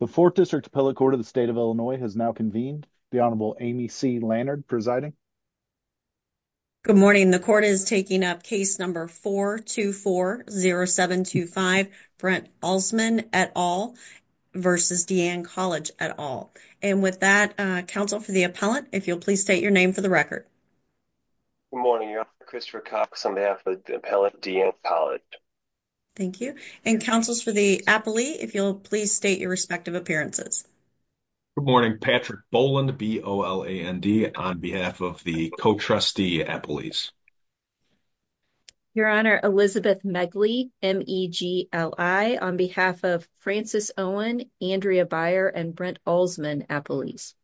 The 4th District Appellate Court of the State of Illinois has now convened. The Honorable Amy C. Lannard presiding. Good morning. The court is taking up case number 424-0725, Brent Alsman et al. v. Deanne College et al. And with that, Counsel for the Appellant, if you'll please state your name for the record. Good morning, Your Honor. Christopher Cox on behalf of the Appellant, Deanne College. Thank you. And Counsel for the Appellant, if you'll please state your respective appearances. Good morning. Patrick Boland, B-O-L-A-N-D, on behalf of the Co-Trustee Appellees. Your Honor, Elizabeth Megley, M-E-G-L-I, on behalf of Frances Owen, Andrea Byer, and Brent Alsman Appellees.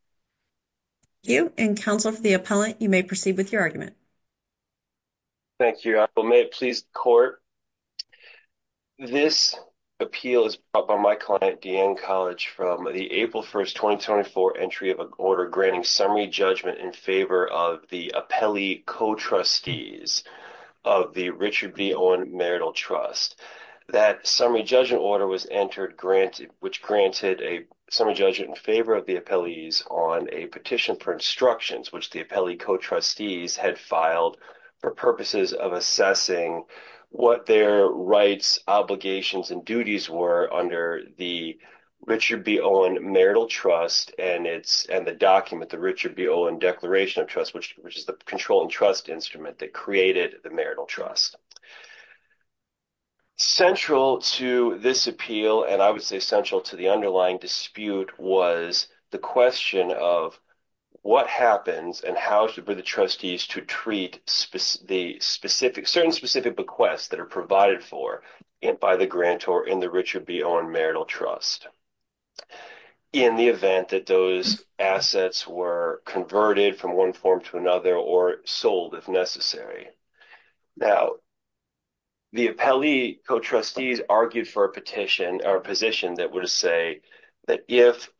Thank you. And Counsel for the Appellant, you may proceed with your argument. Thank you, Your Honor. May it please the Court. This appeal is brought by my client, Deanne College, from the April 1st, 2024 entry of an order granting summary judgment in favor of the Appellee Co-Trustees of the Richard V. Owen Marital Trust. That summary judgment order was entered, which granted a summary judgment in favor of the Appellees on a petition for instructions, which the Appellee Co-Trustees had filed for purposes of assessing what their rights, obligations, and duties were under the Richard V. Owen Marital Trust and the document, the Richard V. Owen Declaration of Trust, which is the control and trust instrument that created the Marital Trust. Central to this appeal, and I would say central to the underlying dispute, was the question of what happens and how should be the trustees to treat the specific, certain specific bequests that are provided for by the grantor in the Richard V. Owen Marital Trust, in the event that those assets were converted from one form to another or sold if necessary. Now, the Appellee Co-Trustees argued for a petition or position that would say that if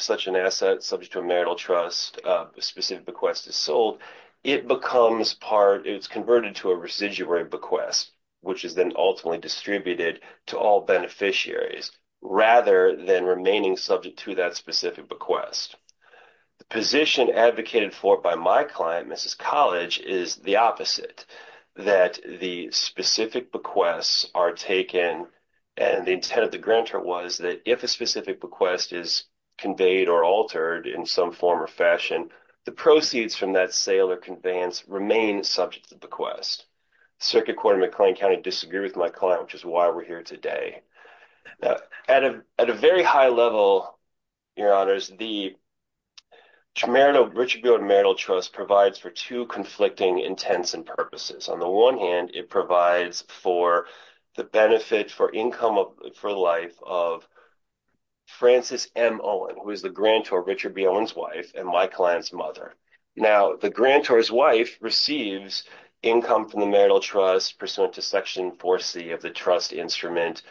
such an asset subject to a Marital Trust specific bequest is sold, it becomes part, it's converted to a residuary bequest, which is then ultimately distributed to all beneficiaries, rather than remaining subject to that specific bequest. The position advocated for by my client, Mrs. College, is the opposite, that the specific bequests are taken, and the intent of the bequest is conveyed or altered in some form or fashion, the proceeds from that sale or conveyance remain subject to bequest. Circuit Court of McLean County disagreed with my client, which is why we're here today. Now, at a very high level, Your Honors, the Richard V. Owen Marital Trust provides for two conflicting intents and purposes. On the one hand, it provides for the benefit for income for the life of Frances M. Owen, who is the grantor of Richard V. Owen's wife and my client's mother. Now, the grantor's wife receives income from the Marital Trust pursuant to Section 4C of the trust instrument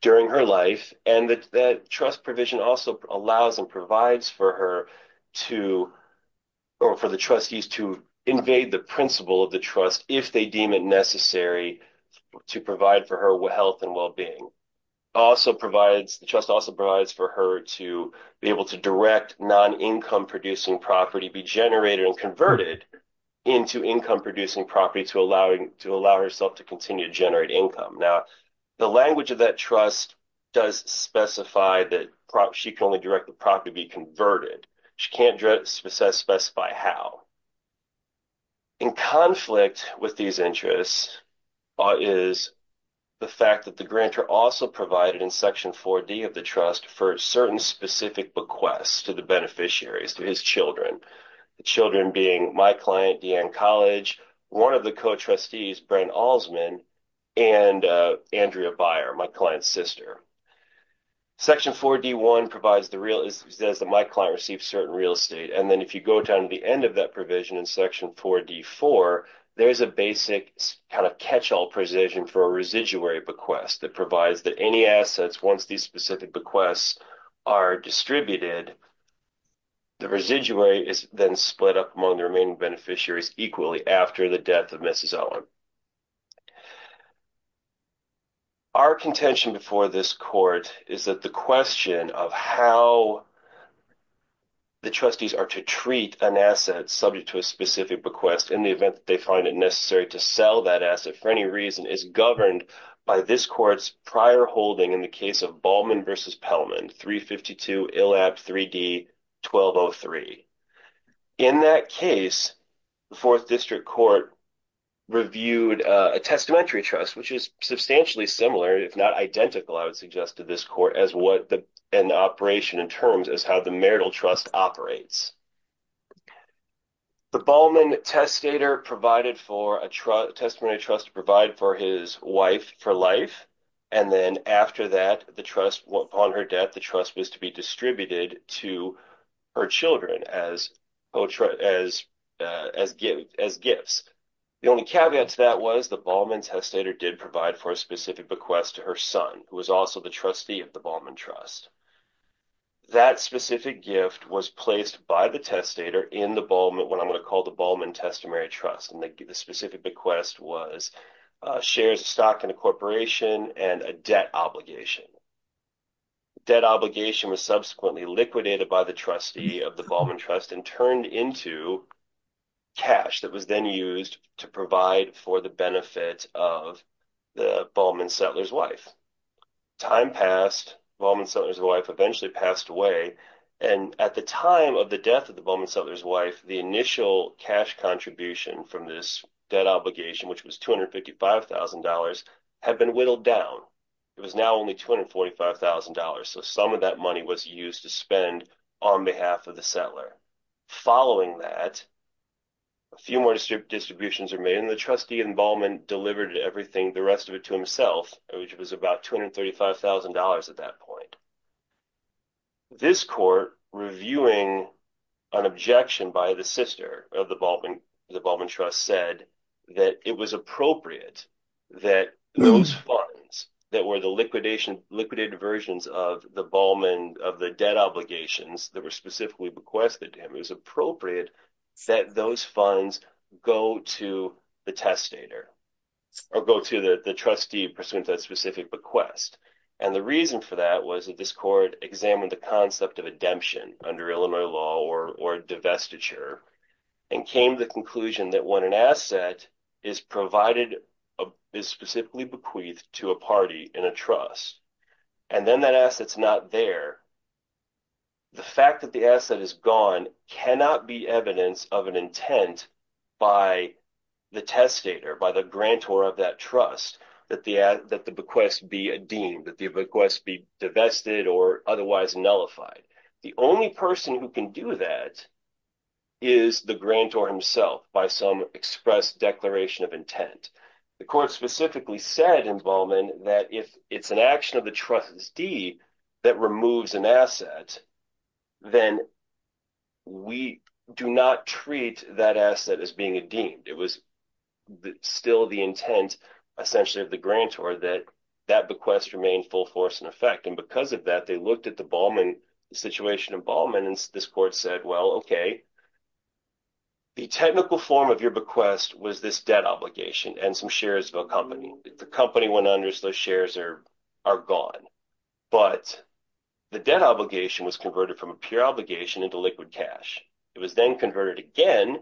during her life, and that trust provision also allows and provides for her to, or for the trustees to invade the principle of the trust if they deem it necessary to provide for her health and well-being. Also provides, the trust also provides for her to be able to direct non-income producing property, be generated and converted into income producing property to allow herself to continue to generate income. Now, the language of that trust does specify that she can only direct the property to be converted. She can't specify how. In conflict with these interests is the fact that the grantor also provided in Section 4D of the trust for certain specific bequests to the beneficiaries, to his children, the children being my client, Deanne College, one of the co-trustees, Brent Alsman, and Andrea Beyer, my client's sister. Section 4D1 provides the my client receives certain real estate, and then if you go down to the end of that provision in Section 4D4, there's a basic kind of catch-all provision for a residuary bequest that provides that any assets, once these specific bequests are distributed, the residuary is then split up among the remaining beneficiaries equally after the death of Mrs. Owen. Our contention before this court is that the question of how the trustees are to treat an asset subject to a specific bequest in the event that they find it necessary to sell that asset for any reason is governed by this court's prior holding in the case of Ballman v. Pellman, 352 ILAB 3D 1203. In that case, the Fourth District Court reviewed a testamentary trust, which is substantially similar, if not identical, I would suggest to this court as what an operation in terms as how the marital trust operates. The Ballman testator provided for a testimony trust to provide for his wife for life, and then after that, the trust, upon her death, the trust was to be distributed to her children as gifts. The only caveat to that was the Ballman testator did provide for a specific bequest to her son, who was also the trustee of the Ballman trust. That specific gift was placed by the testator in the Ballman, what I'm going to call the Ballman testamentary trust, and the specific bequest was shares of stock in a corporation and a debt obligation. Debt obligation was subsequently liquidated by the trustee of the Ballman trust and turned into cash that was then used to provide for the benefit of the Ballman settler's wife. Time passed, Ballman settler's wife eventually passed away, and at the time of the death of the Ballman settler's wife, the initial cash contribution from this debt obligation, which was $255,000, had been whittled down. It was now only $245,000, so some of that money was used to spend on behalf of the settler. Following that, a few more distributions are made, and the trustee in Ballman delivered everything, the rest of it, to himself, which was about $235,000 at that point. This court, reviewing an objection by the sister of the Ballman trust, said that it was appropriate that those funds that were the liquidation, liquidated versions of the Ballman, of the debt obligations that were specifically bequested to him, it was appropriate that those funds go to the testator or go to the trustee pursuant to that specific bequest, and the reason for that was that this court examined the concept of a demption under Illinois law or divestiture and came to the conclusion that when an asset is provided, is specifically bequeathed to a party in a trust, and then that asset's not there, the fact that the asset is gone cannot be evidence of an intent by the testator, by the grantor of that trust, that the bequest be deemed, that the bequest be divested or otherwise nullified. The only person who can do that is the grantor himself by some expressed declaration of intent. The court specifically said in Ballman that if it's an action of the trustee that removes an asset, then we do not treat that asset as being a deemed. It was still the intent, essentially, of the grantor that that bequest remained full force in effect, and because of that, they looked at the Ballman, the situation in Ballman, and this court said, well, okay, the technical form of your bequest was this debt obligation and some shares of a company. If the company went under, so those shares are gone, but the debt obligation was converted from a pure obligation into liquid cash. It was then converted again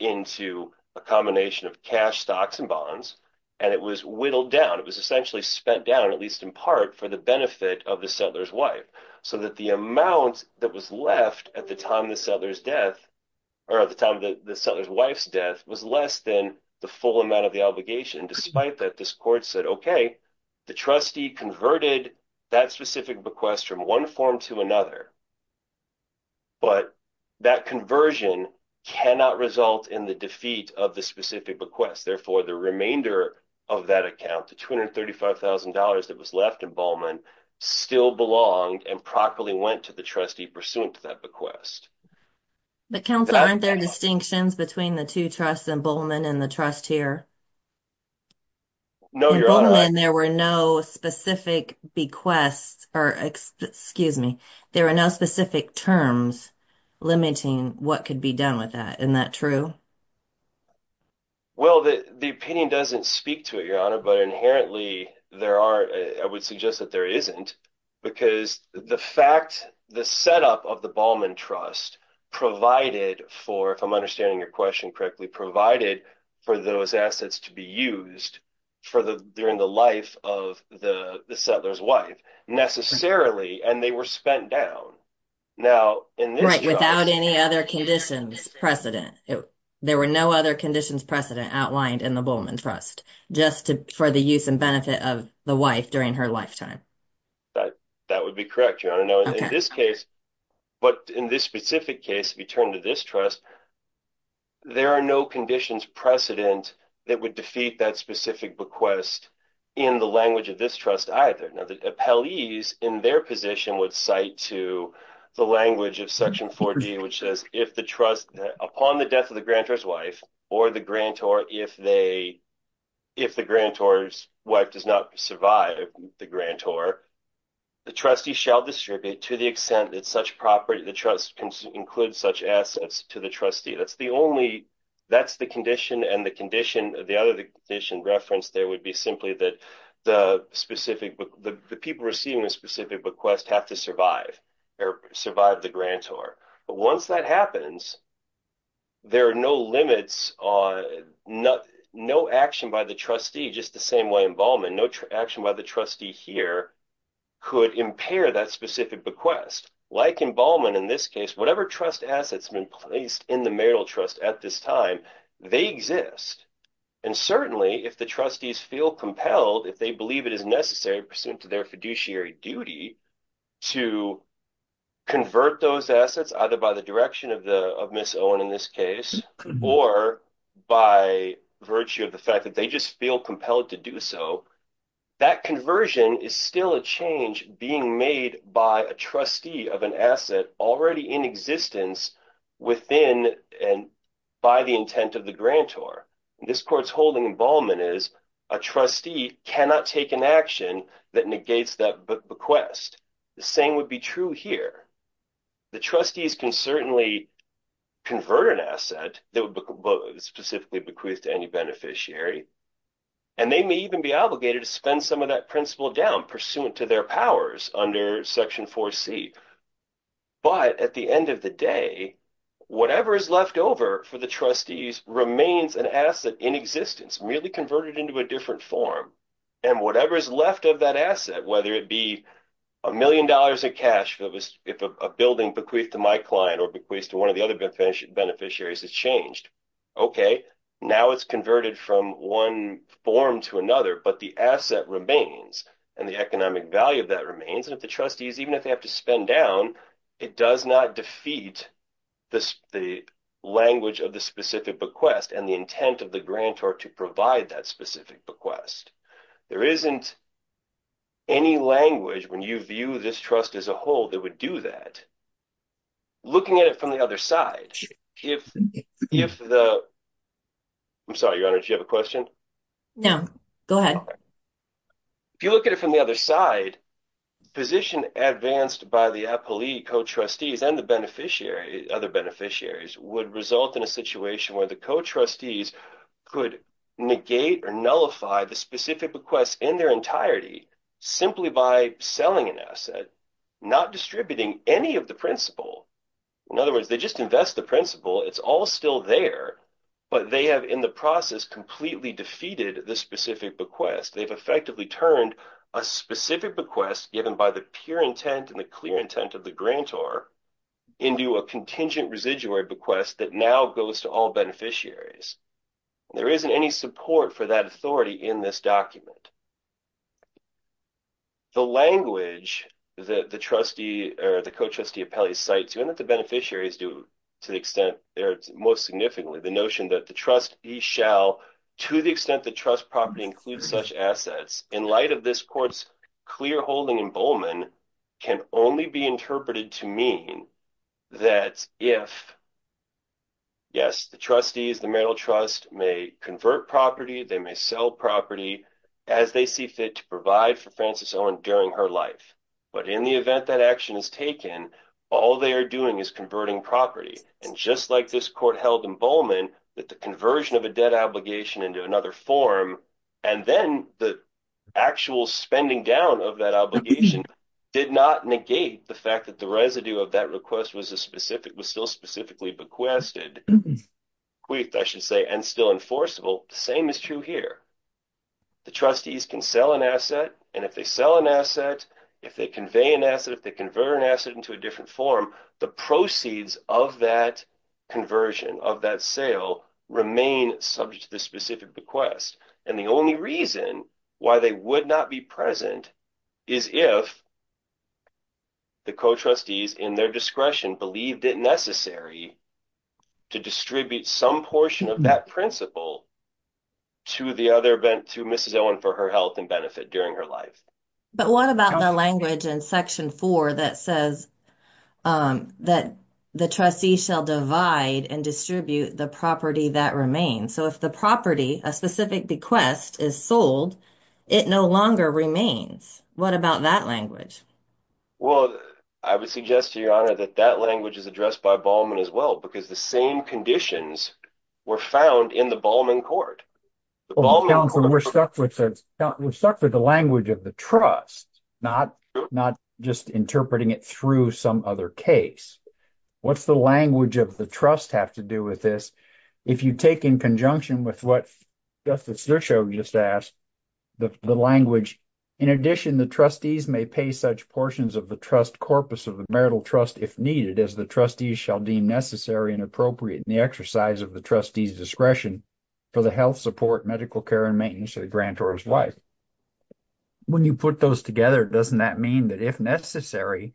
into a combination of cash, stocks, and bonds, and it was whittled down. It was essentially spent down, at least in part, for the benefit of the settler's wife, so that the amount that was left at the time the settler's death, or at the time the settler's wife's death, was less than the full amount of the obligation. Despite that, this court said, okay, the trustee converted that specific bequest from one form to another, but that conversion cannot result in the defeat of the specific bequest. Therefore, the remainder of that account, the $235,000 that was left in Ballman, still belonged and properly went to the trustee pursuant to that bequest. But Counselor, aren't there distinctions between the two trusts in Ballman and the trust here? No, Your Honor. In Ballman, there were no specific bequests, or excuse me, there are no specific terms limiting what could be done with that. Isn't that true? Well, the opinion doesn't speak to it, Your Honor, but inherently, there aren't, I would suggest that there isn't, because the fact, the setup of the Ballman Trust provided for, if I'm understanding your question correctly, provided for those assets to be used during the life of the settler's wife, necessarily, and they were spent down. Now, in this case- There were no other conditions precedent outlined in the Ballman Trust, just for the use and benefit of the wife during her lifetime. That would be correct, Your Honor. Now, in this case, but in this specific case, if you turn to this trust, there are no conditions precedent that would defeat that specific bequest in the language of this trust either. Now, the appellees in their position would cite to the language of Section 4D, which says, if the trust, upon the death of the grantor's wife, or the grantor, if the grantor's wife does not survive the grantor, the trustee shall distribute to the extent that such property, the trust includes such assets to the trustee. That's the only, that's the condition, and the condition, the other condition referenced there would be simply that the specific, the people receiving a specific bequest have to survive, or survive the grantor. But once that happens, there are no limits on, no action by the trustee, just the same way in Ballman, no action by the trustee here could impair that specific bequest. Like in Ballman, in this case, whatever trust assets have been placed in the marital trust at this time, they exist. And certainly, if the trustees feel compelled, if they believe it is necessary, pursuant to their fiduciary duty, to convert those assets, either by the direction of the, of Ms. Owen in this case, or by virtue of the fact that they just feel compelled to do so, that conversion is still a change being made by a trustee of an asset already in existence within, and by the intent of the grantor. This court's holding in Ballman is a trustee cannot take an action that negates that bequest. The same would be true here. The trustees can certainly convert an asset that would specifically bequeath to any beneficiary, and they may even be obligated to spend some of that principal down, pursuant to their powers under Section 4C. But at the end of the day, whatever is left over for the trustees remains an asset in existence, merely converted into a different form. And whatever is left of that asset, whether it be a million dollars of cash, if a building bequeathed to my client, or bequeathed to one of the other beneficiaries, has changed. Okay, now it's converted from one form to another, but the asset remains, and the economic value of that remains. And if the trustees, even if they have to spend down, it does not defeat the language of the specific bequest, and the intent of the grantor to provide that specific bequest. There isn't any language, when you view this trust as a whole, that would do that. Looking at it from the other side, if the, I'm sorry, Your Honor, did you have a question? No, go ahead. If you look at it from the other side, position advanced by the appellee, co-trustees, and the beneficiary, other beneficiaries, would result in a situation where the co-trustees could negate or nullify the specific bequest in their entirety, simply by selling an asset, not distributing any of the principal. In other words, they just invest the principal, it's all still there, but they have, in the process, completely defeated the specific bequest. They've effectively turned a specific bequest, given by the pure intent and the clear intent of the grantor, into a contingent residuary bequest that now goes to all beneficiaries. There isn't any support for that authority in this document. The language that the trustee, or the co-trustee appellee cites, even if the beneficiaries do to the extent they're most significantly, the notion that the trustee shall, to the extent the trust property includes such assets, in light of this court's clear holding in Bowman, can only be interpreted to mean that if, yes, the trustees, the marital trust may convert property, they may sell property as they see fit to provide for Frances Owen during her life, but in the event that action is taken, all they are doing is converting property, and just like this court held in Bowman, that the conversion of a debt obligation into another form, and then the actual spending down of that obligation, did not negate the fact that the residue of that request was a specific, was still specifically bequested, queefed, I should say, and still enforceable, the same is true here. The trustees can sell an asset, and if they sell an asset, if they convey an asset, if they convert an asset into a different form, the proceeds of that conversion, of that sale, remain subject to the specific bequest, and the only reason why they would not be present is if the co-trustees, in their discretion, believed it necessary to distribute some portion of that principal to the other, to Mrs. Owen for her health and benefit during her life. But what about the language in Section 4 that says that the trustee shall divide and distribute the property that remains? So, if the property, a specific bequest, is sold, it no longer remains. What about that language? Well, I would suggest to Your Honor, that that language is addressed by Bowman as well, because the same conditions were found in the Bowman Court. We're stuck with the language of the trust, not just interpreting it through some other case. What's the language of the trust have to do with this? If you take in conjunction with what Justice Zershow just asked, the language, in addition, the trustees may pay such portions of the trust corpus of the marital trust if needed, as the trustees shall deem necessary and appropriate in the exercise of the trustee's discretion for the health, support, medical care, and maintenance of the grantor's wife. When you put those together, doesn't that mean that, if necessary,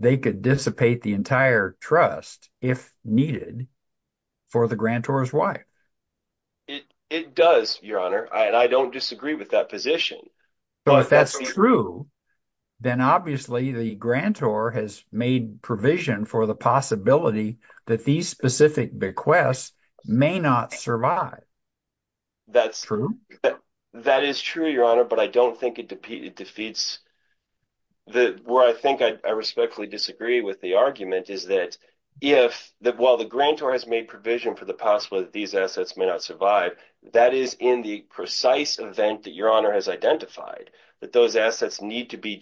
they could dissipate the entire trust, if needed, for the grantor's wife? It does, Your Honor, and I don't disagree with that position. If that's true, then, obviously, the grantor has made provision for the possibility that these specific bequests may not survive. That's true. That is true, Your Honor, but I don't think it defeats, where I think I respectfully disagree with the argument, is that, while the grantor has made provision for the possibility that these identified, that those assets need to be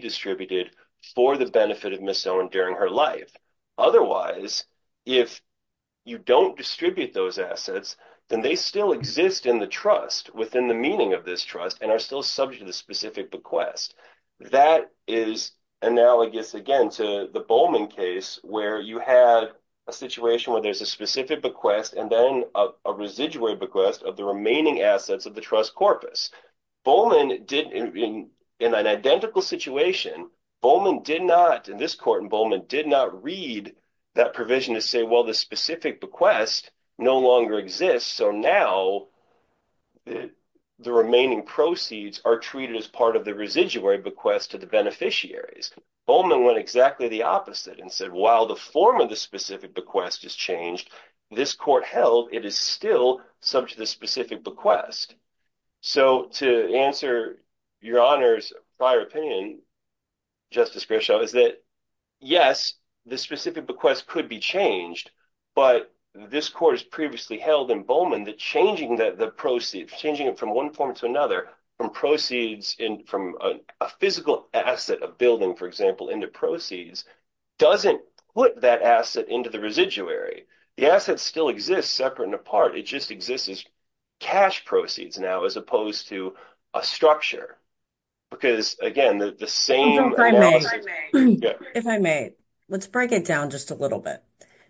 distributed for the benefit of Miss Owen during her life. Otherwise, if you don't distribute those assets, then they still exist in the trust, within the meaning of this trust, and are still subject to the specific bequest. That is analogous, again, to the Bowman case, where you had a situation where there's a Bowman did, in an identical situation, Bowman did not, in this court in Bowman, did not read that provision to say, well, the specific bequest no longer exists, so now the remaining proceeds are treated as part of the residuary bequest to the beneficiaries. Bowman went exactly the opposite and said, while the form of the specific bequest has changed, this court held it is still subject to the specific bequest. So, to answer Your Honor's prior opinion, Justice Grishow, is that, yes, the specific bequest could be changed, but this court has previously held in Bowman that changing the proceeds, changing it from one form to another, from proceeds, from a physical asset, a building, for example, into proceeds, doesn't put that asset into the residuary. The asset still exists, separate and apart, it just exists as cash proceeds now, as opposed to a structure. Because, again, the same... If I may, if I may, let's break it down just a little bit.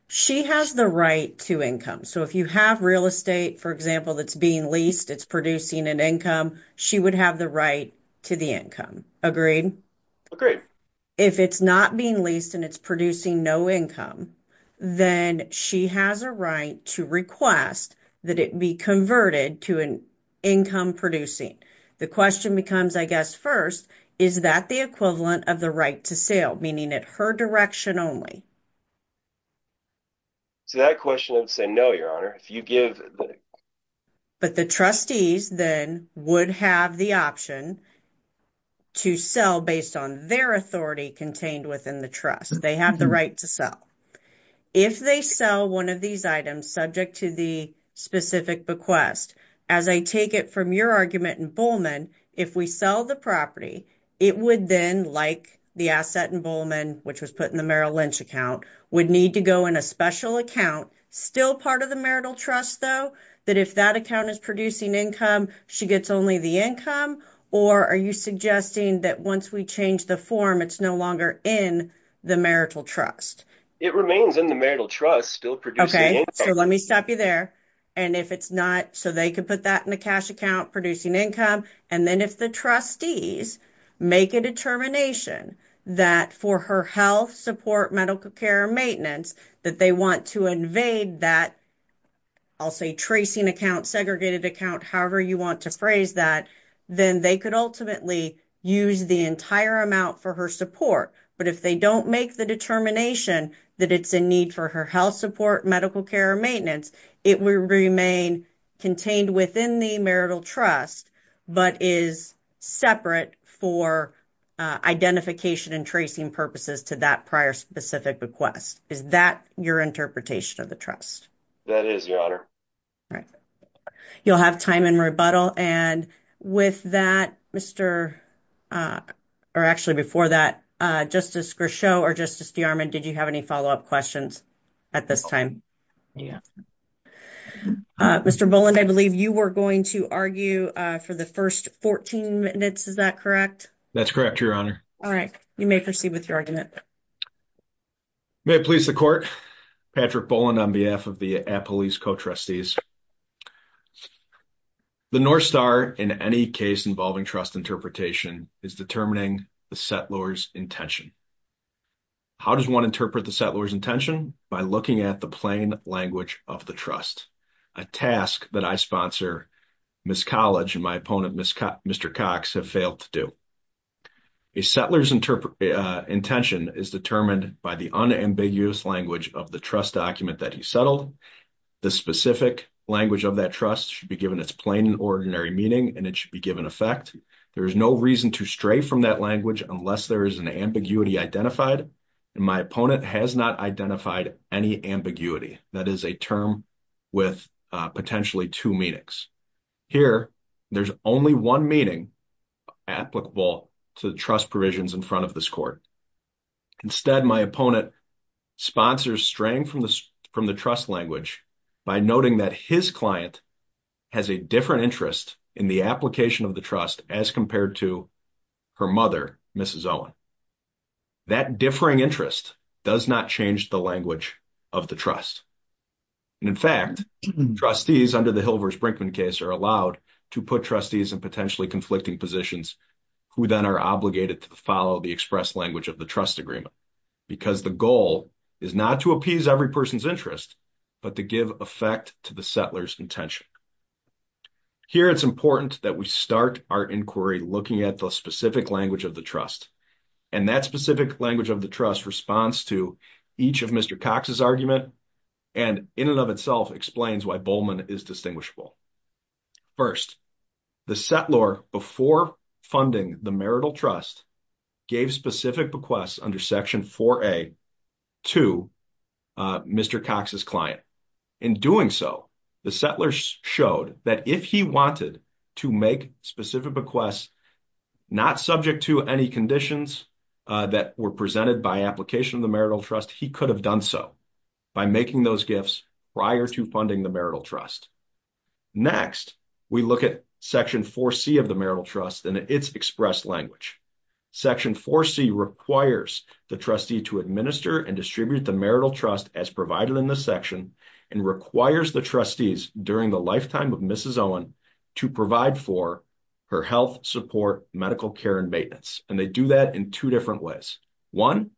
She has the right to income. So, if you have real estate, for example, that's being leased, it's producing an income, she would have the right to the income, agreed? Agreed. If it's not being leased and it's producing no income, then she has a right to request that it be converted to an income producing. The question becomes, I guess, first, is that the equivalent of the right to sale, meaning at her direction only? So, that question would say, no, Your Honor, if you give... But the trustees then would have the option to sell based on their authority contained within the trust. They have the right to sell. If they sell one of these items subject to the specific bequest, as I take it from your argument in Bowman, if we sell the property, it would then, like the asset in Bowman, which was put in the Merrill Lynch account, would need to go in a special account, still part of the marital trust though, that if that account is producing income, she gets only the income? Or are you suggesting that once we change the form, it's no longer in the marital trust? It remains in the marital trust, still producing income. Okay. So, let me stop you there. And if it's not... So, they could put that in a cash account, producing income. And then if the trustees make a determination that for her health support, medical care, or maintenance, that they want to invade that, I'll say, tracing account, segregated account, however you want to phrase that, then they could ultimately use the entire amount for her support. But if they don't make the determination that it's a need for her health support, medical care, or maintenance, it will remain contained within the marital trust, but is separate for identification and tracing purposes to that prior specific request. Is that your interpretation of the trust? That is, Your Honor. All right. You'll have time in rebuttal. And with that, Mr... Or actually, before that, Justice Grishow or Justice DeArmond, did you have any follow-up questions at this time? Yeah. Mr. Boland, I believe you were going to argue for the first 14 minutes. Is that correct? That's correct, Your Honor. All right. You may proceed with your argument. May it please the court. Patrick Boland on behalf of the Appaloose co-trustees. The North Star, in any case involving trust interpretation, is determining the settlor's intention by looking at the plain language of the trust, a task that I sponsor Ms. College and my opponent, Mr. Cox, have failed to do. A settlor's intention is determined by the unambiguous language of the trust document that he settled. The specific language of that trust should be given its plain and ordinary meaning, and it should be given effect. There is no reason to stray from that language unless there is an ambiguity identified, and my opponent has not identified any ambiguity. That is a term with potentially two meanings. Here, there's only one meaning applicable to the trust provisions in front of this court. Instead, my opponent sponsors straying from the trust language by noting that his client has a different interest in the trust as compared to her mother, Mrs. Owen. That differing interest does not change the language of the trust, and in fact, trustees under the Hilvers-Brinkman case are allowed to put trustees in potentially conflicting positions who then are obligated to follow the express language of the trust agreement because the goal is not to appease every person's interest but to give effect to the start of our inquiry looking at the specific language of the trust, and that specific language of the trust responds to each of Mr. Cox's arguments and in and of itself explains why Bowman is distinguishable. First, the settlor, before funding the marital trust, gave specific bequests under Section 4A to Mr. Cox's client. In doing so, the settlor showed that if he wanted to make specific bequests not subject to any conditions that were presented by application of the marital trust, he could have done so by making those gifts prior to funding the marital trust. Next, we look at Section 4C of the marital trust and its express language. Section 4C requires the trustee to administer and distribute the marital trust as provided in this section and requires the trustees during the lifetime of Mrs. Owen to provide for her health, support, medical care, and maintenance, and they do that in two different ways. One,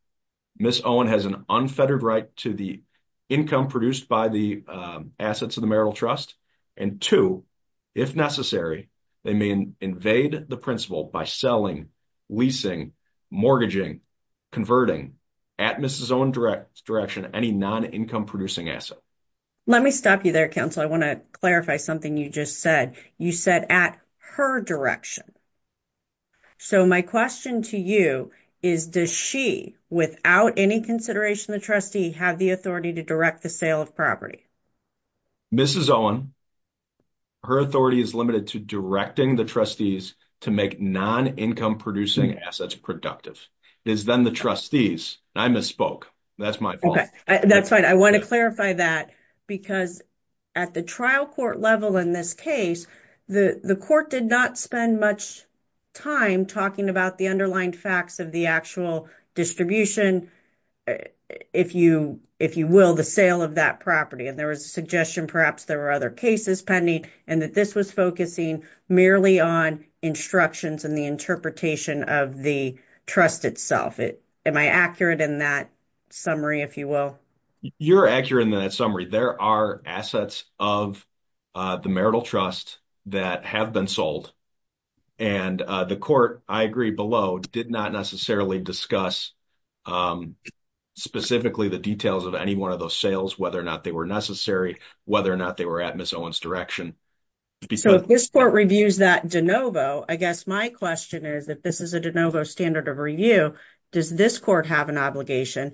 Ms. Owen has an unfettered right to the income produced by the assets of the marital trust, and two, if necessary, they may invade the principal by selling, leasing, mortgaging, converting, at Mrs. Owen's direction, any non-income producing asset. Let me stop you there, counsel. I want to clarify something you just said. You said at her direction. So, my question to you is, does she, without any consideration of the trustee, have the authority to direct the sale of property? Mrs. Owen, her authority is limited to directing the trustees to make non-income producing assets productive. It is then the trustees. I misspoke. That's my fault. That's fine. I want to clarify that because at the trial court level in this case, the court did not spend much time talking about the underlying facts of the actual distribution, if you will, the sale of that property, and there was a suggestion, perhaps there were other cases pending, and that this was focusing merely on instructions and the interpretation of the trust itself. Am I accurate in that summary, if you will? You're accurate in that summary. There are assets of the marital trust that have been sold, and the court, I agree below, did not necessarily discuss specifically the details of any one of those sales, whether or not they were necessary, whether or not they were at Ms. Owen's direction. So, if this court reviews that de novo, I guess my question is, if this is a de novo standard of review, does this court have an obligation,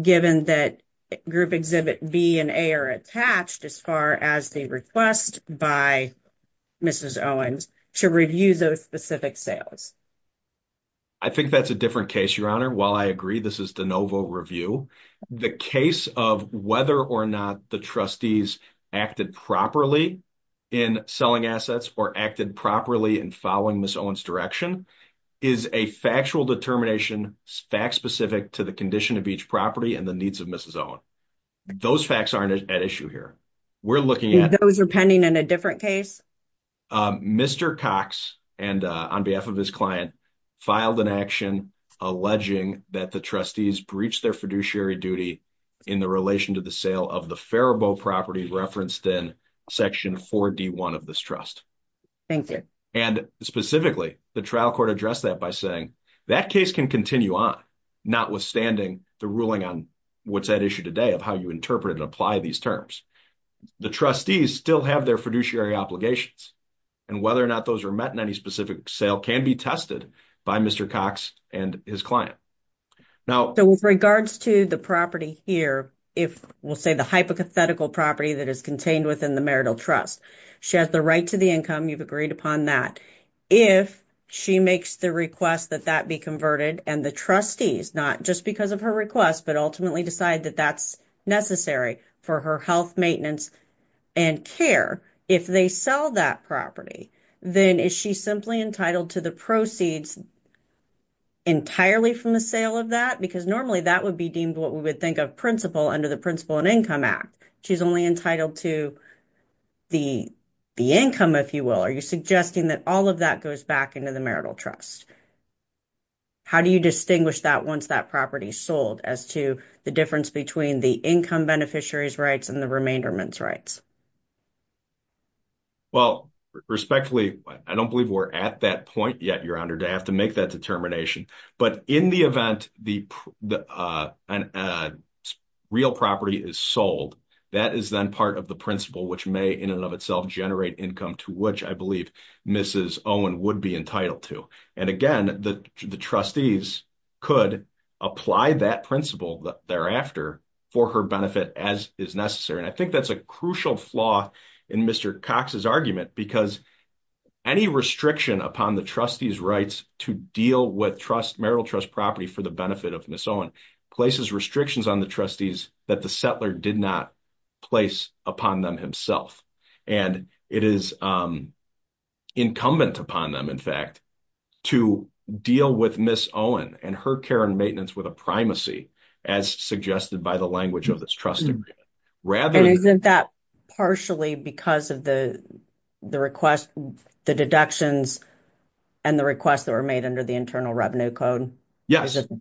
given that group exhibit B and A are attached as far as the request by Mrs. Owen's to review those specific sales? I think that's a different case, Your Honor. While I agree this is de novo review, the case of whether or not the trustees acted properly in selling assets or acted properly in following Ms. Owen's direction is a factual determination, fact-specific to the condition of each property and the needs of Mrs. Owen. Those facts aren't at issue here. Those are pending in a different case? Mr. Cox, on behalf of his client, filed an action alleging that the trustees breached their fiduciary duty in the relation to the sale of the Faribault property referenced in Section 4D1 of this trust. Thank you. And specifically, the trial court addressed that by saying that case can continue on, notwithstanding the ruling on what's at issue today of how you apply these terms. The trustees still have their fiduciary obligations, and whether or not those are met in any specific sale can be tested by Mr. Cox and his client. With regards to the property here, we'll say the hypothetical property that is contained within the marital trust, she has the right to the income, you've agreed upon that. If she makes the request that that be converted and the trustees, not just because of her request, but ultimately decide that that's necessary for her health, maintenance, and care, if they sell that property, then is she simply entitled to the proceeds entirely from the sale of that? Because normally that would be deemed what we would think of principal under the Principal and Income Act. She's only entitled to the income, if you will. Are you suggesting that all of that goes back into the marital trust? How do you distinguish that once that property is sold as to the difference between the income beneficiary's rights and the remainderment's rights? Well, respectfully, I don't believe we're at that point yet, Your Honor, to have to make that determination. But in the event the real property is sold, that is then part of the principal, which may in and of itself generate income to which I believe Mrs. Owen would be entitled to. And again, the trustees could apply that principal thereafter for her benefit as is necessary. And I think that's a crucial flaw in Mr. Cox's argument because any restriction upon the trustee's rights to deal with marital trust property for the benefit of Mrs. Owen places restrictions on the trustees that the settler did not place upon them himself. And it is incumbent upon them, in fact, to deal with Mrs. Owen and her care and maintenance with a primacy, as suggested by the language of this trust agreement. And isn't that partially because of the deductions and the requests that were made under the Internal Revenue Code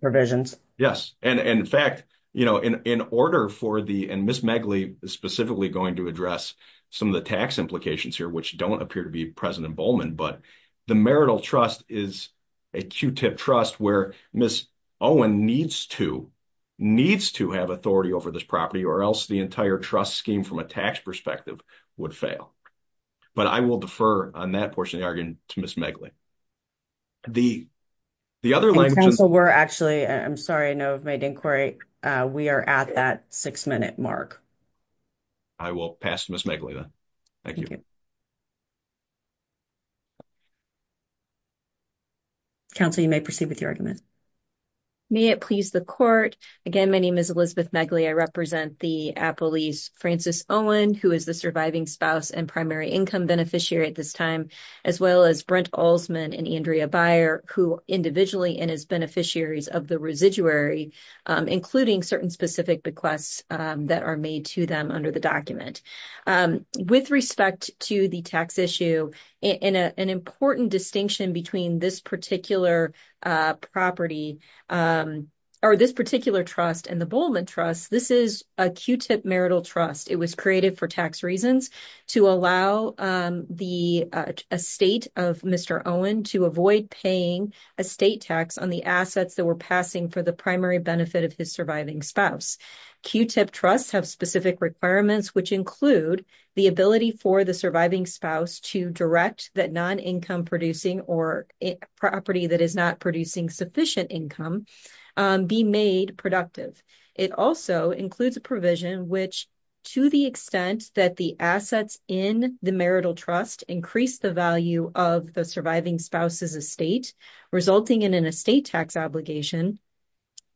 provisions? Yes. And in fact, and Ms. Megley is specifically going to address some of the tax implications here, which don't appear to be President Bowman, but the marital trust is a Q-tip trust where Ms. Owen needs to have authority over this property or else the entire trust scheme from a tax perspective would fail. But I will defer on that portion of the argument to Ms. Megley. The other language is... In Council, we're actually, I'm sorry, I know I've made inquiry. We are at that six-minute mark. I will pass to Ms. Megley then. Thank you. Council, you may proceed with your argument. May it please the Court. Again, my name is Elizabeth Megley. I represent the appellees Francis Owen, who is the surviving spouse and primary income beneficiary at this time, as well as Brent Olsman and Andrea Beyer, who individually and as beneficiaries of the residuary, including certain specific bequests that are made to them under the document. With respect to the tax issue, an important distinction between this particular property or this particular trust and the Bowman Trust, this is a Q-tip marital trust. It was created for tax reasons to allow the estate of Mr. Owen to avoid paying a state tax on the assets that were passing for the primary benefit of his surviving spouse. Q-tip trusts have specific requirements which include the ability for the surviving spouse to direct that non-income producing or property that is not producing sufficient income be made productive. It also includes a provision which, to the extent that the assets in the marital trust increase the value of the surviving spouse's estate, resulting in an estate tax obligation,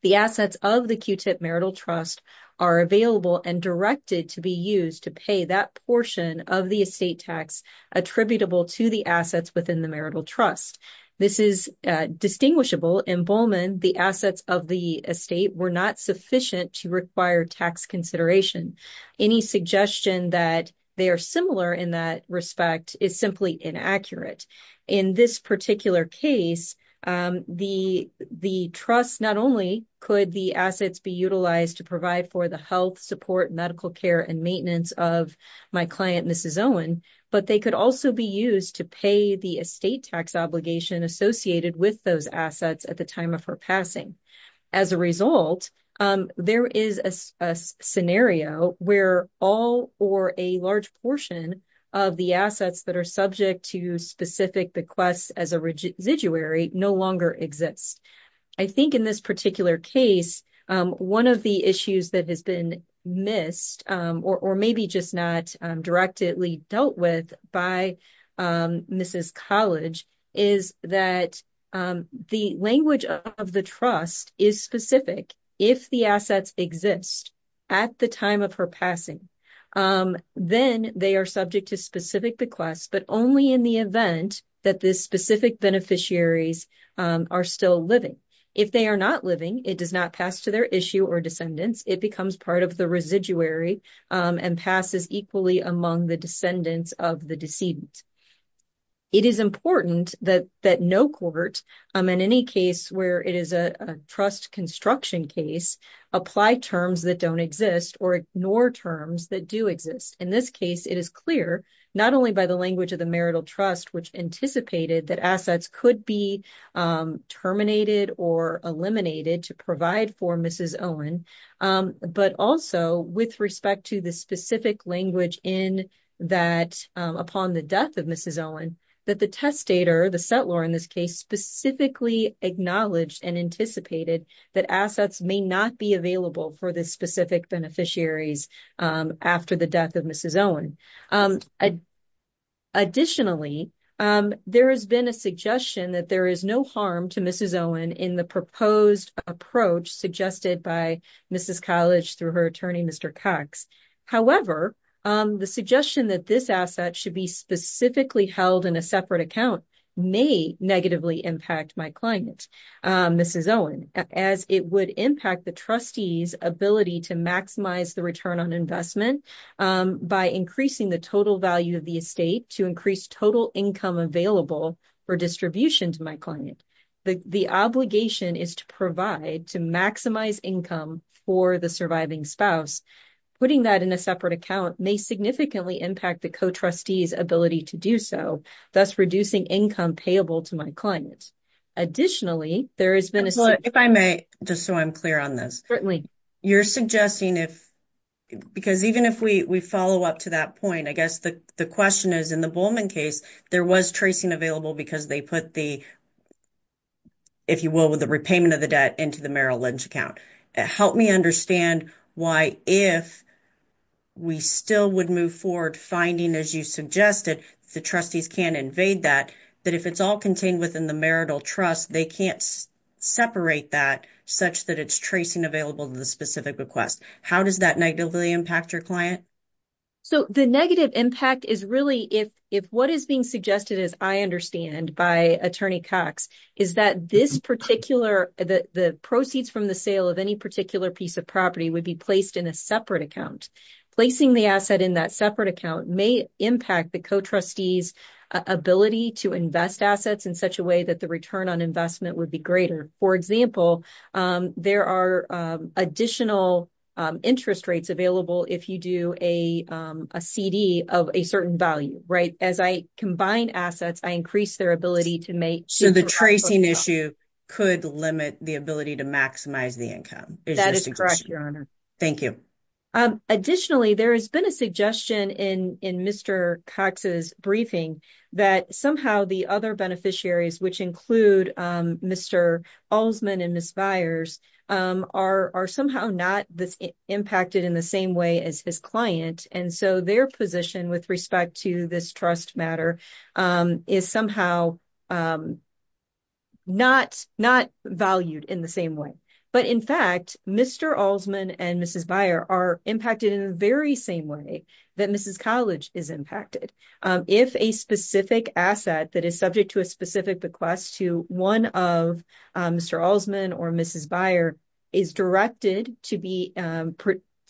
the assets of the Q-tip marital trust are available and directed to be used to pay that portion of the estate tax attributable to the assets within the marital trust. This is distinguishable. In Bowman, the assets of the estate were not sufficient to require tax consideration. Any suggestion that they are similar in that respect is simply inaccurate. In this particular case, the trust not only could the assets be utilized to provide for the health, support, medical care, and maintenance of my client, Mrs. Owen, but they could also be used to pay the estate tax obligation associated with those assets at the time of her passing. As a result, there is a scenario where all or a large portion of the assets that are subject to specific bequests as a residuary no longer exist. I think in this particular case, one of the issues that has been missed or maybe just not directly dealt with by Mrs. College is that the language of the trust is specific. If the assets exist at the time of her passing, then they are subject to specific bequests, but only in the event that the specific beneficiaries are still living. If they are not living, it does not pass to their issue or descendants. It becomes part of the residuary and passes equally among the descendants of the decedent. It is important that no court, in any case where it is a trust construction case, apply terms that don't exist or ignore terms that exist. In this case, it is clear not only by the language of the marital trust, which anticipated that assets could be terminated or eliminated to provide for Mrs. Owen, but also with respect to the specific language in that upon the death of Mrs. Owen, that the testator, the settlor in this case, specifically acknowledged and anticipated that assets may not be available for the specific beneficiaries after the death of Mrs. Owen. Additionally, there has been a suggestion that there is no harm to Mrs. Owen in the proposed approach suggested by Mrs. College through her attorney, Mr. Cox. However, the suggestion that this asset should be specifically held in a separate account may negatively impact my client, Mrs. Owen, as it would impact the trustee's ability to maximize the return on investment by increasing the total value of the estate to increase total income available for distribution to my client. The obligation is to provide to maximize income for the surviving spouse. Putting that in a separate account may significantly impact the co-trustee's ability to do so, thus reducing income payable to my client. Additionally, there has been a... If I may, just so I'm clear on this. You're suggesting if, because even if we follow up to that point, I guess the question is in the Bowman case, there was tracing available because they put the, if you will, with the repayment of the debt into the Merrill Lynch account. Help me understand why if we still would move forward finding, as you suggested, the trustees can invade that, that if it's all contained within the marital trust, they can't separate that such that it's tracing available to the specific request. How does that negatively impact your client? So, the negative impact is really if what is being suggested, as I understand, by Attorney Cox is that this particular, the proceeds from the sale of any particular piece of property would be placed in a separate account. Placing the asset in that separate account may impact the co-trustee's ability to invest assets in such a way that the return on investment would be greater. For example, there are additional interest rates available if you do a CD of a certain value, right? As I combine assets, I increase their ability to make... So, the tracing issue could limit the ability to maximize the income. That is correct, Your Honor. Thank you. Additionally, there has been a suggestion in Mr. Cox's briefing that somehow the other beneficiaries, which include Mr. Alsman and Ms. Byers, are somehow not impacted in the same way as his client. And so, their position with respect to this trust matter is somehow not valued in the same way. But in fact, Mr. Alsman and Mrs. Byers are impacted in the very same way that Mrs. College is impacted. If a specific asset that is subject to a specific bequest to one of Mr. Alsman or Mrs. Byers is directed to be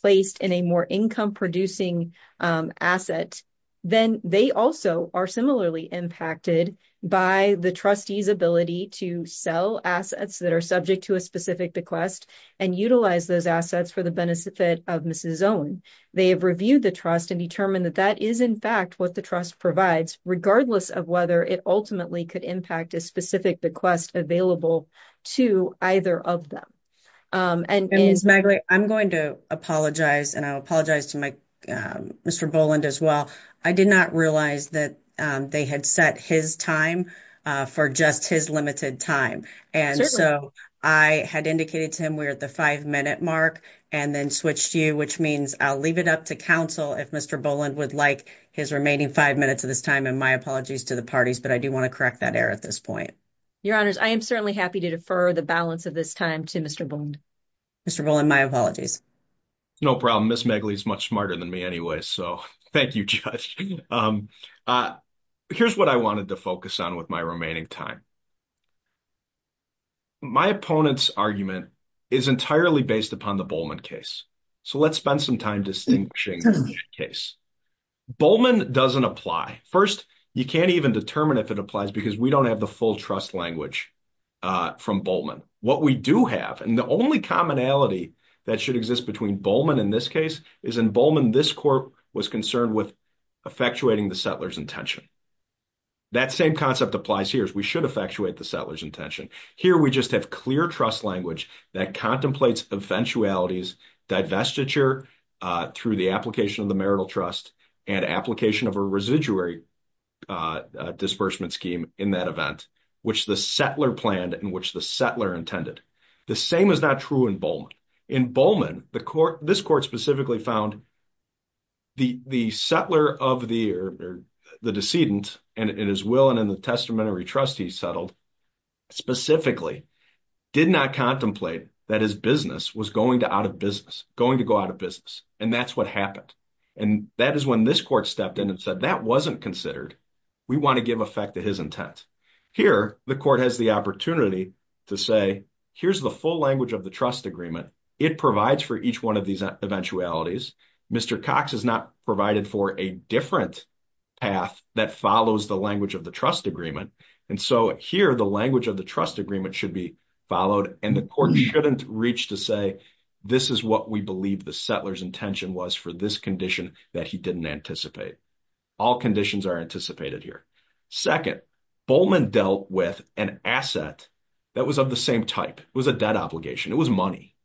placed in a more income-producing asset, then they also are impacted by the trustee's ability to sell assets that are subject to a specific bequest and utilize those assets for the benefit of Mrs. Owen. They have reviewed the trust and determined that that is, in fact, what the trust provides, regardless of whether it ultimately could impact a specific bequest available to either of them. And Ms. Magler, I'm going to apologize, and I apologize to Mr. Boland as well. I did not realize that they had set his time for just his limited time. And so, I had indicated to him we're at the five-minute mark and then switched you, which means I'll leave it up to counsel if Mr. Boland would like his remaining five minutes of this time. And my apologies to the parties, but I do want to correct that error at this point. Your Honors, I am certainly happy to defer the balance of this time to Mr. Boland. Mr. Boland, my apologies. No problem. Ms. Magler is much smarter than me anyway, so thank you, Judge. Here's what I wanted to focus on with my remaining time. My opponent's argument is entirely based upon the Bollman case. So, let's spend some time distinguishing the case. Bollman doesn't apply. First, you can't even determine if it applies because we don't have the full trust language from Bollman. What we do have, and the only commonality that should exist between Bollman and this case, is in Bollman, this court was concerned with effectuating the settler's intention. That same concept applies here. We should effectuate the settler's intention. Here, we just have clear trust language that contemplates eventualities, divestiture through the application of the marital trust, and application of a residuary disbursement scheme in that event, which the settler planned and which the settler intended. The same is not true in Bollman. In Bollman, this court specifically found the settler of the decedent, and in his will and in the testamentary trust he settled, specifically did not contemplate that his business was going to go out of business. And that's what happened. And that is when this court stepped in and said, that wasn't considered. We want to give effect to his intent. Here, the court has the opportunity to say, here's the full language of the trust agreement. It provides for each one of these eventualities. Mr. Cox has not provided for a different path that follows the language of the trust agreement. And so here, the language of the trust agreement should be followed. And the court shouldn't reach to say, this is what we believe the settler's intention was for this condition that he didn't anticipate. All conditions are anticipated here. Second, Bollman dealt with an asset that was of the same type. It was a debt obligation. It was money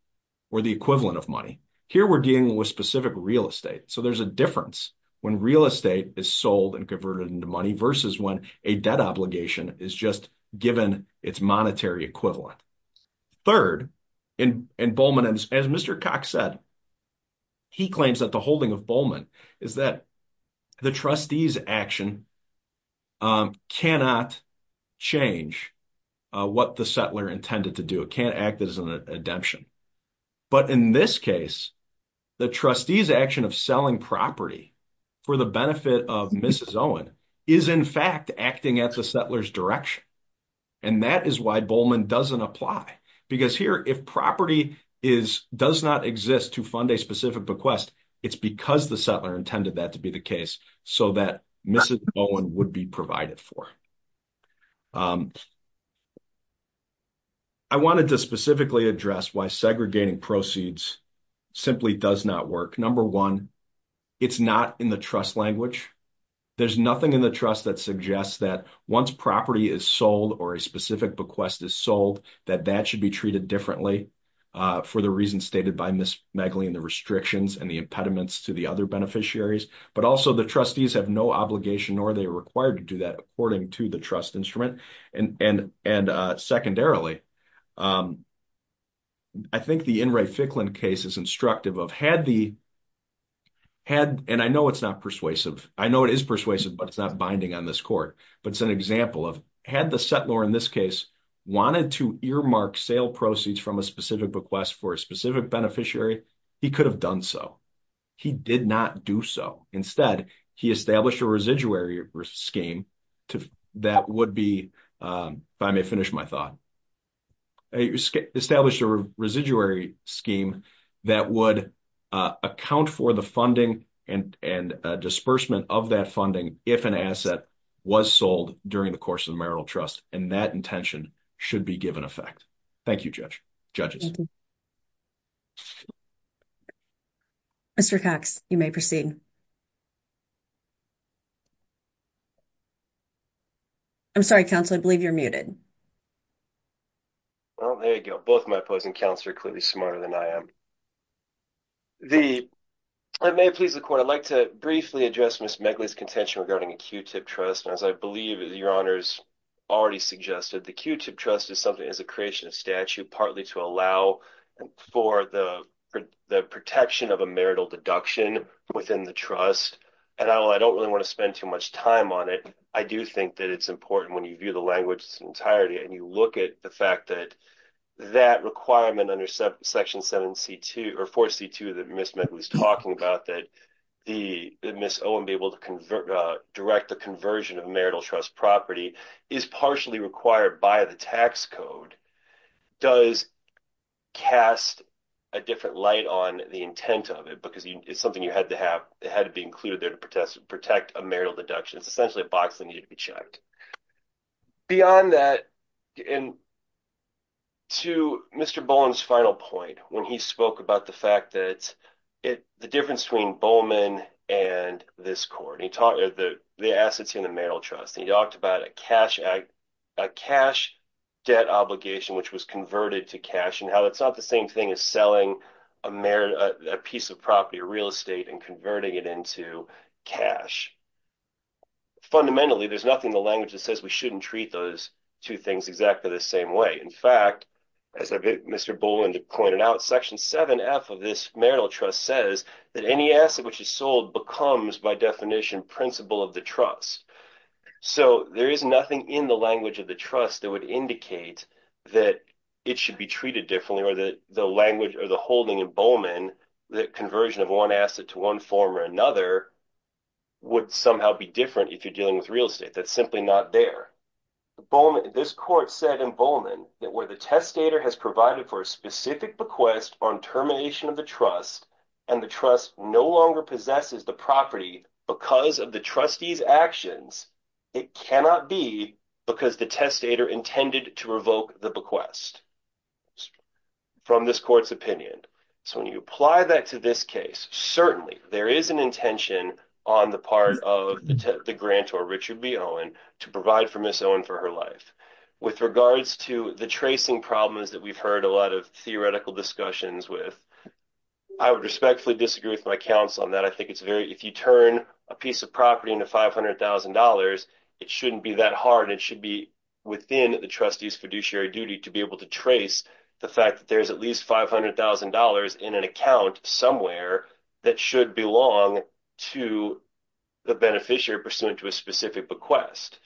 or the equivalent of money. Here, we're dealing with specific real estate. So there's a difference when real estate is sold and converted into money versus when a debt obligation is just given its monetary equivalent. Third, in Bollman, as Mr. Cox said, he claims that the holding of is that the trustee's action cannot change what the settler intended to do. It can't act as an redemption. But in this case, the trustee's action of selling property for the benefit of Mrs. Owen is in fact acting at the settler's direction. And that is why Bollman doesn't apply. Because here, if property does not exist to fund a specific bequest, it's because the settler intended that to be the case so that Mrs. Owen would be provided for. I wanted to specifically address why segregating proceeds simply does not work. Number one, it's not in the trust language. There's nothing in the trust that suggests that once property is sold or a specific bequest is sold, that that should be treated differently for the reasons stated by Ms. Megley and the restrictions and the impediments to the other beneficiaries. But also, the trustees have no obligation nor are they required to do that according to the trust instrument. And secondarily, I think the In re Ficklin case is instructive of had the, and I know it's not persuasive, I know it is persuasive, but it's not binding on this court. But it's an example of had the settler, in this case, wanted to earmark sale proceeds from a specific bequest for a specific beneficiary, he could have done so. He did not do so. Instead, he established a residuary scheme that would be, if I may finish my thought, established a residuary scheme that would account for the funding and disbursement of that funding if an asset was sold during the trust. And that intention should be given effect. Thank you, Judge. Judges. Mr. Cox, you may proceed. I'm sorry, counsel, I believe you're muted. Well, there you go. Both my opposing counts are clearly smarter than I am. The I may please the court. I'd like to briefly address Ms. Megley's contention regarding a Q-tip trust. And as I believe your honors already suggested, the Q-tip trust is something as a creation of statute, partly to allow for the protection of a marital deduction within the trust. And I don't really want to spend too much time on it. I do think that it's important when you view the language in entirety and you look at the fact that that requirement under Section 7C2, or 4C2 that Ms. Megley's talking about, that Ms. Owen be able to direct the conversion of marital trust property is partially required by the tax code, does cast a different light on the intent of it because it's something you had to have, it had to be included there to protect a marital deduction. It's essentially a box that needed to be checked. Beyond that, and to Mr. Bowen's final point, when he spoke about the fact that the difference between Bowman and this court, he talked about the assets in the marital trust, he talked about a cash debt obligation which was converted to cash and how it's not the same thing as selling a piece of property, a real estate and converting it into cash. Fundamentally, there's nothing in the language that says we shouldn't treat those two things exactly the same way. In fact, as Mr. Bowen pointed out, Section 7F of this marital trust says that any asset which is sold becomes by definition principle of the trust. So, there is nothing in the language of the trust that would indicate that it should be treated differently or that the language or the holding of Bowman, the conversion of one asset to one form or another would somehow be different if you're dealing with real estate. That's simply not there. This court said in Bowman that where the testator has provided for a specific bequest on termination of the trust and the trust no longer possesses the property because of the trustee's actions, it cannot be because the testator intended to revoke the bequest from this court's opinion. So, when you apply that to this case, certainly there is an intention on the part of the grantor, Richard B. Owen, to provide for Ms. Owen for her life. With regards to the tracing problems that we've heard a lot of theoretical discussions with, I would respectfully disagree with my counsel on that. I think it's very, if you turn a piece of property into $500,000, it shouldn't be that hard. It should be within the trustee's fiduciary duty to be able to trace the fact that there's at least $500,000 in an account somewhere that should belong to the beneficiary pursuant to a specific bequest.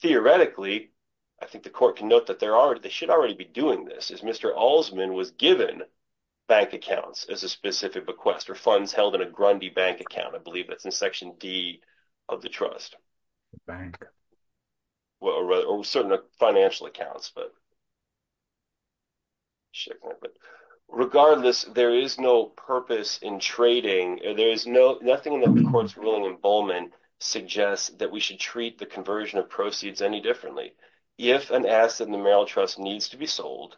Theoretically, I think the court can note that there are, they should already be doing this, is Mr. Alsman was given bank accounts as a specific bequest or funds held in a Grundy bank account. I believe that's in section D of the trust. Well, certainly financial accounts, but regardless, there is no purpose in trading. There is nothing in the court's ruling emboldenment suggests that we should treat the conversion of proceeds any differently. If an asset in the marital trust needs to be sold,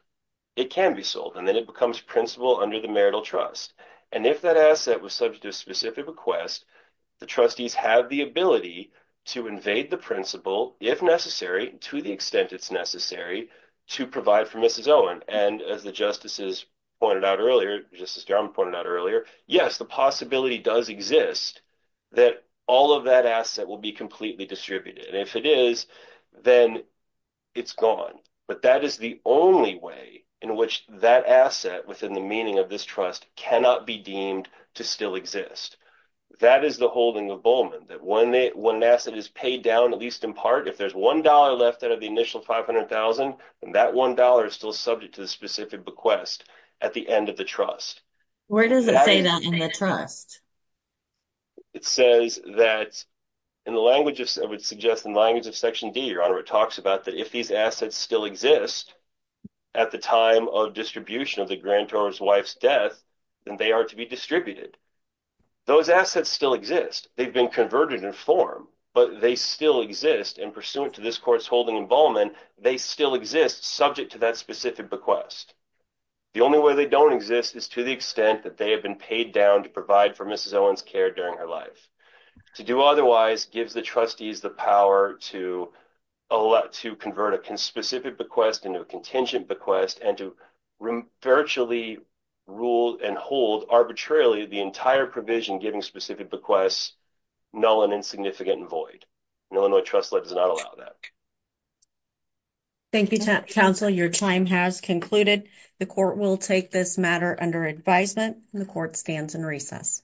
it can be sold, and then it becomes principal under the marital trust. And if that asset was subject to a specific request, the trustees have the ability to invade the principal, if necessary, to the extent it's necessary, to provide for Mrs. Owen. And as the justices pointed out earlier, Justice Durham pointed out earlier, yes, the possibility does exist that all of that asset will be completely distributed. And if it is, then it's gone. But that is the only way in which that asset within the meaning of this trust cannot be deemed to still exist. That is the holding emboldenment, that when an asset is paid down, at least in part, if there's $1 left out of the initial $500,000, then that $1 is still subject to the specific bequest at the end of the trust. Where does it say that in the trust? It says that in the language of, I would suggest in the language of Section D, Your Honor, it talks about that if these assets still exist at the time of distribution of the grantor's wife's death, then they are to be distributed. Those assets still exist. They've been converted in form, but they still exist. And pursuant to this court's holding emboldenment, they still exist subject to that specific bequest. The only way they don't exist is to the extent that they have been paid down to provide for Mrs. Owen's care during her life. To do otherwise gives the trustees the power to convert a specific bequest into a contingent bequest and to virtually rule and hold arbitrarily the entire provision giving specific bequests null and insignificant and void. An Illinois trust does not allow that. Thank you, counsel. Your time has concluded. The court will take this matter under advisement and the court stands in recess.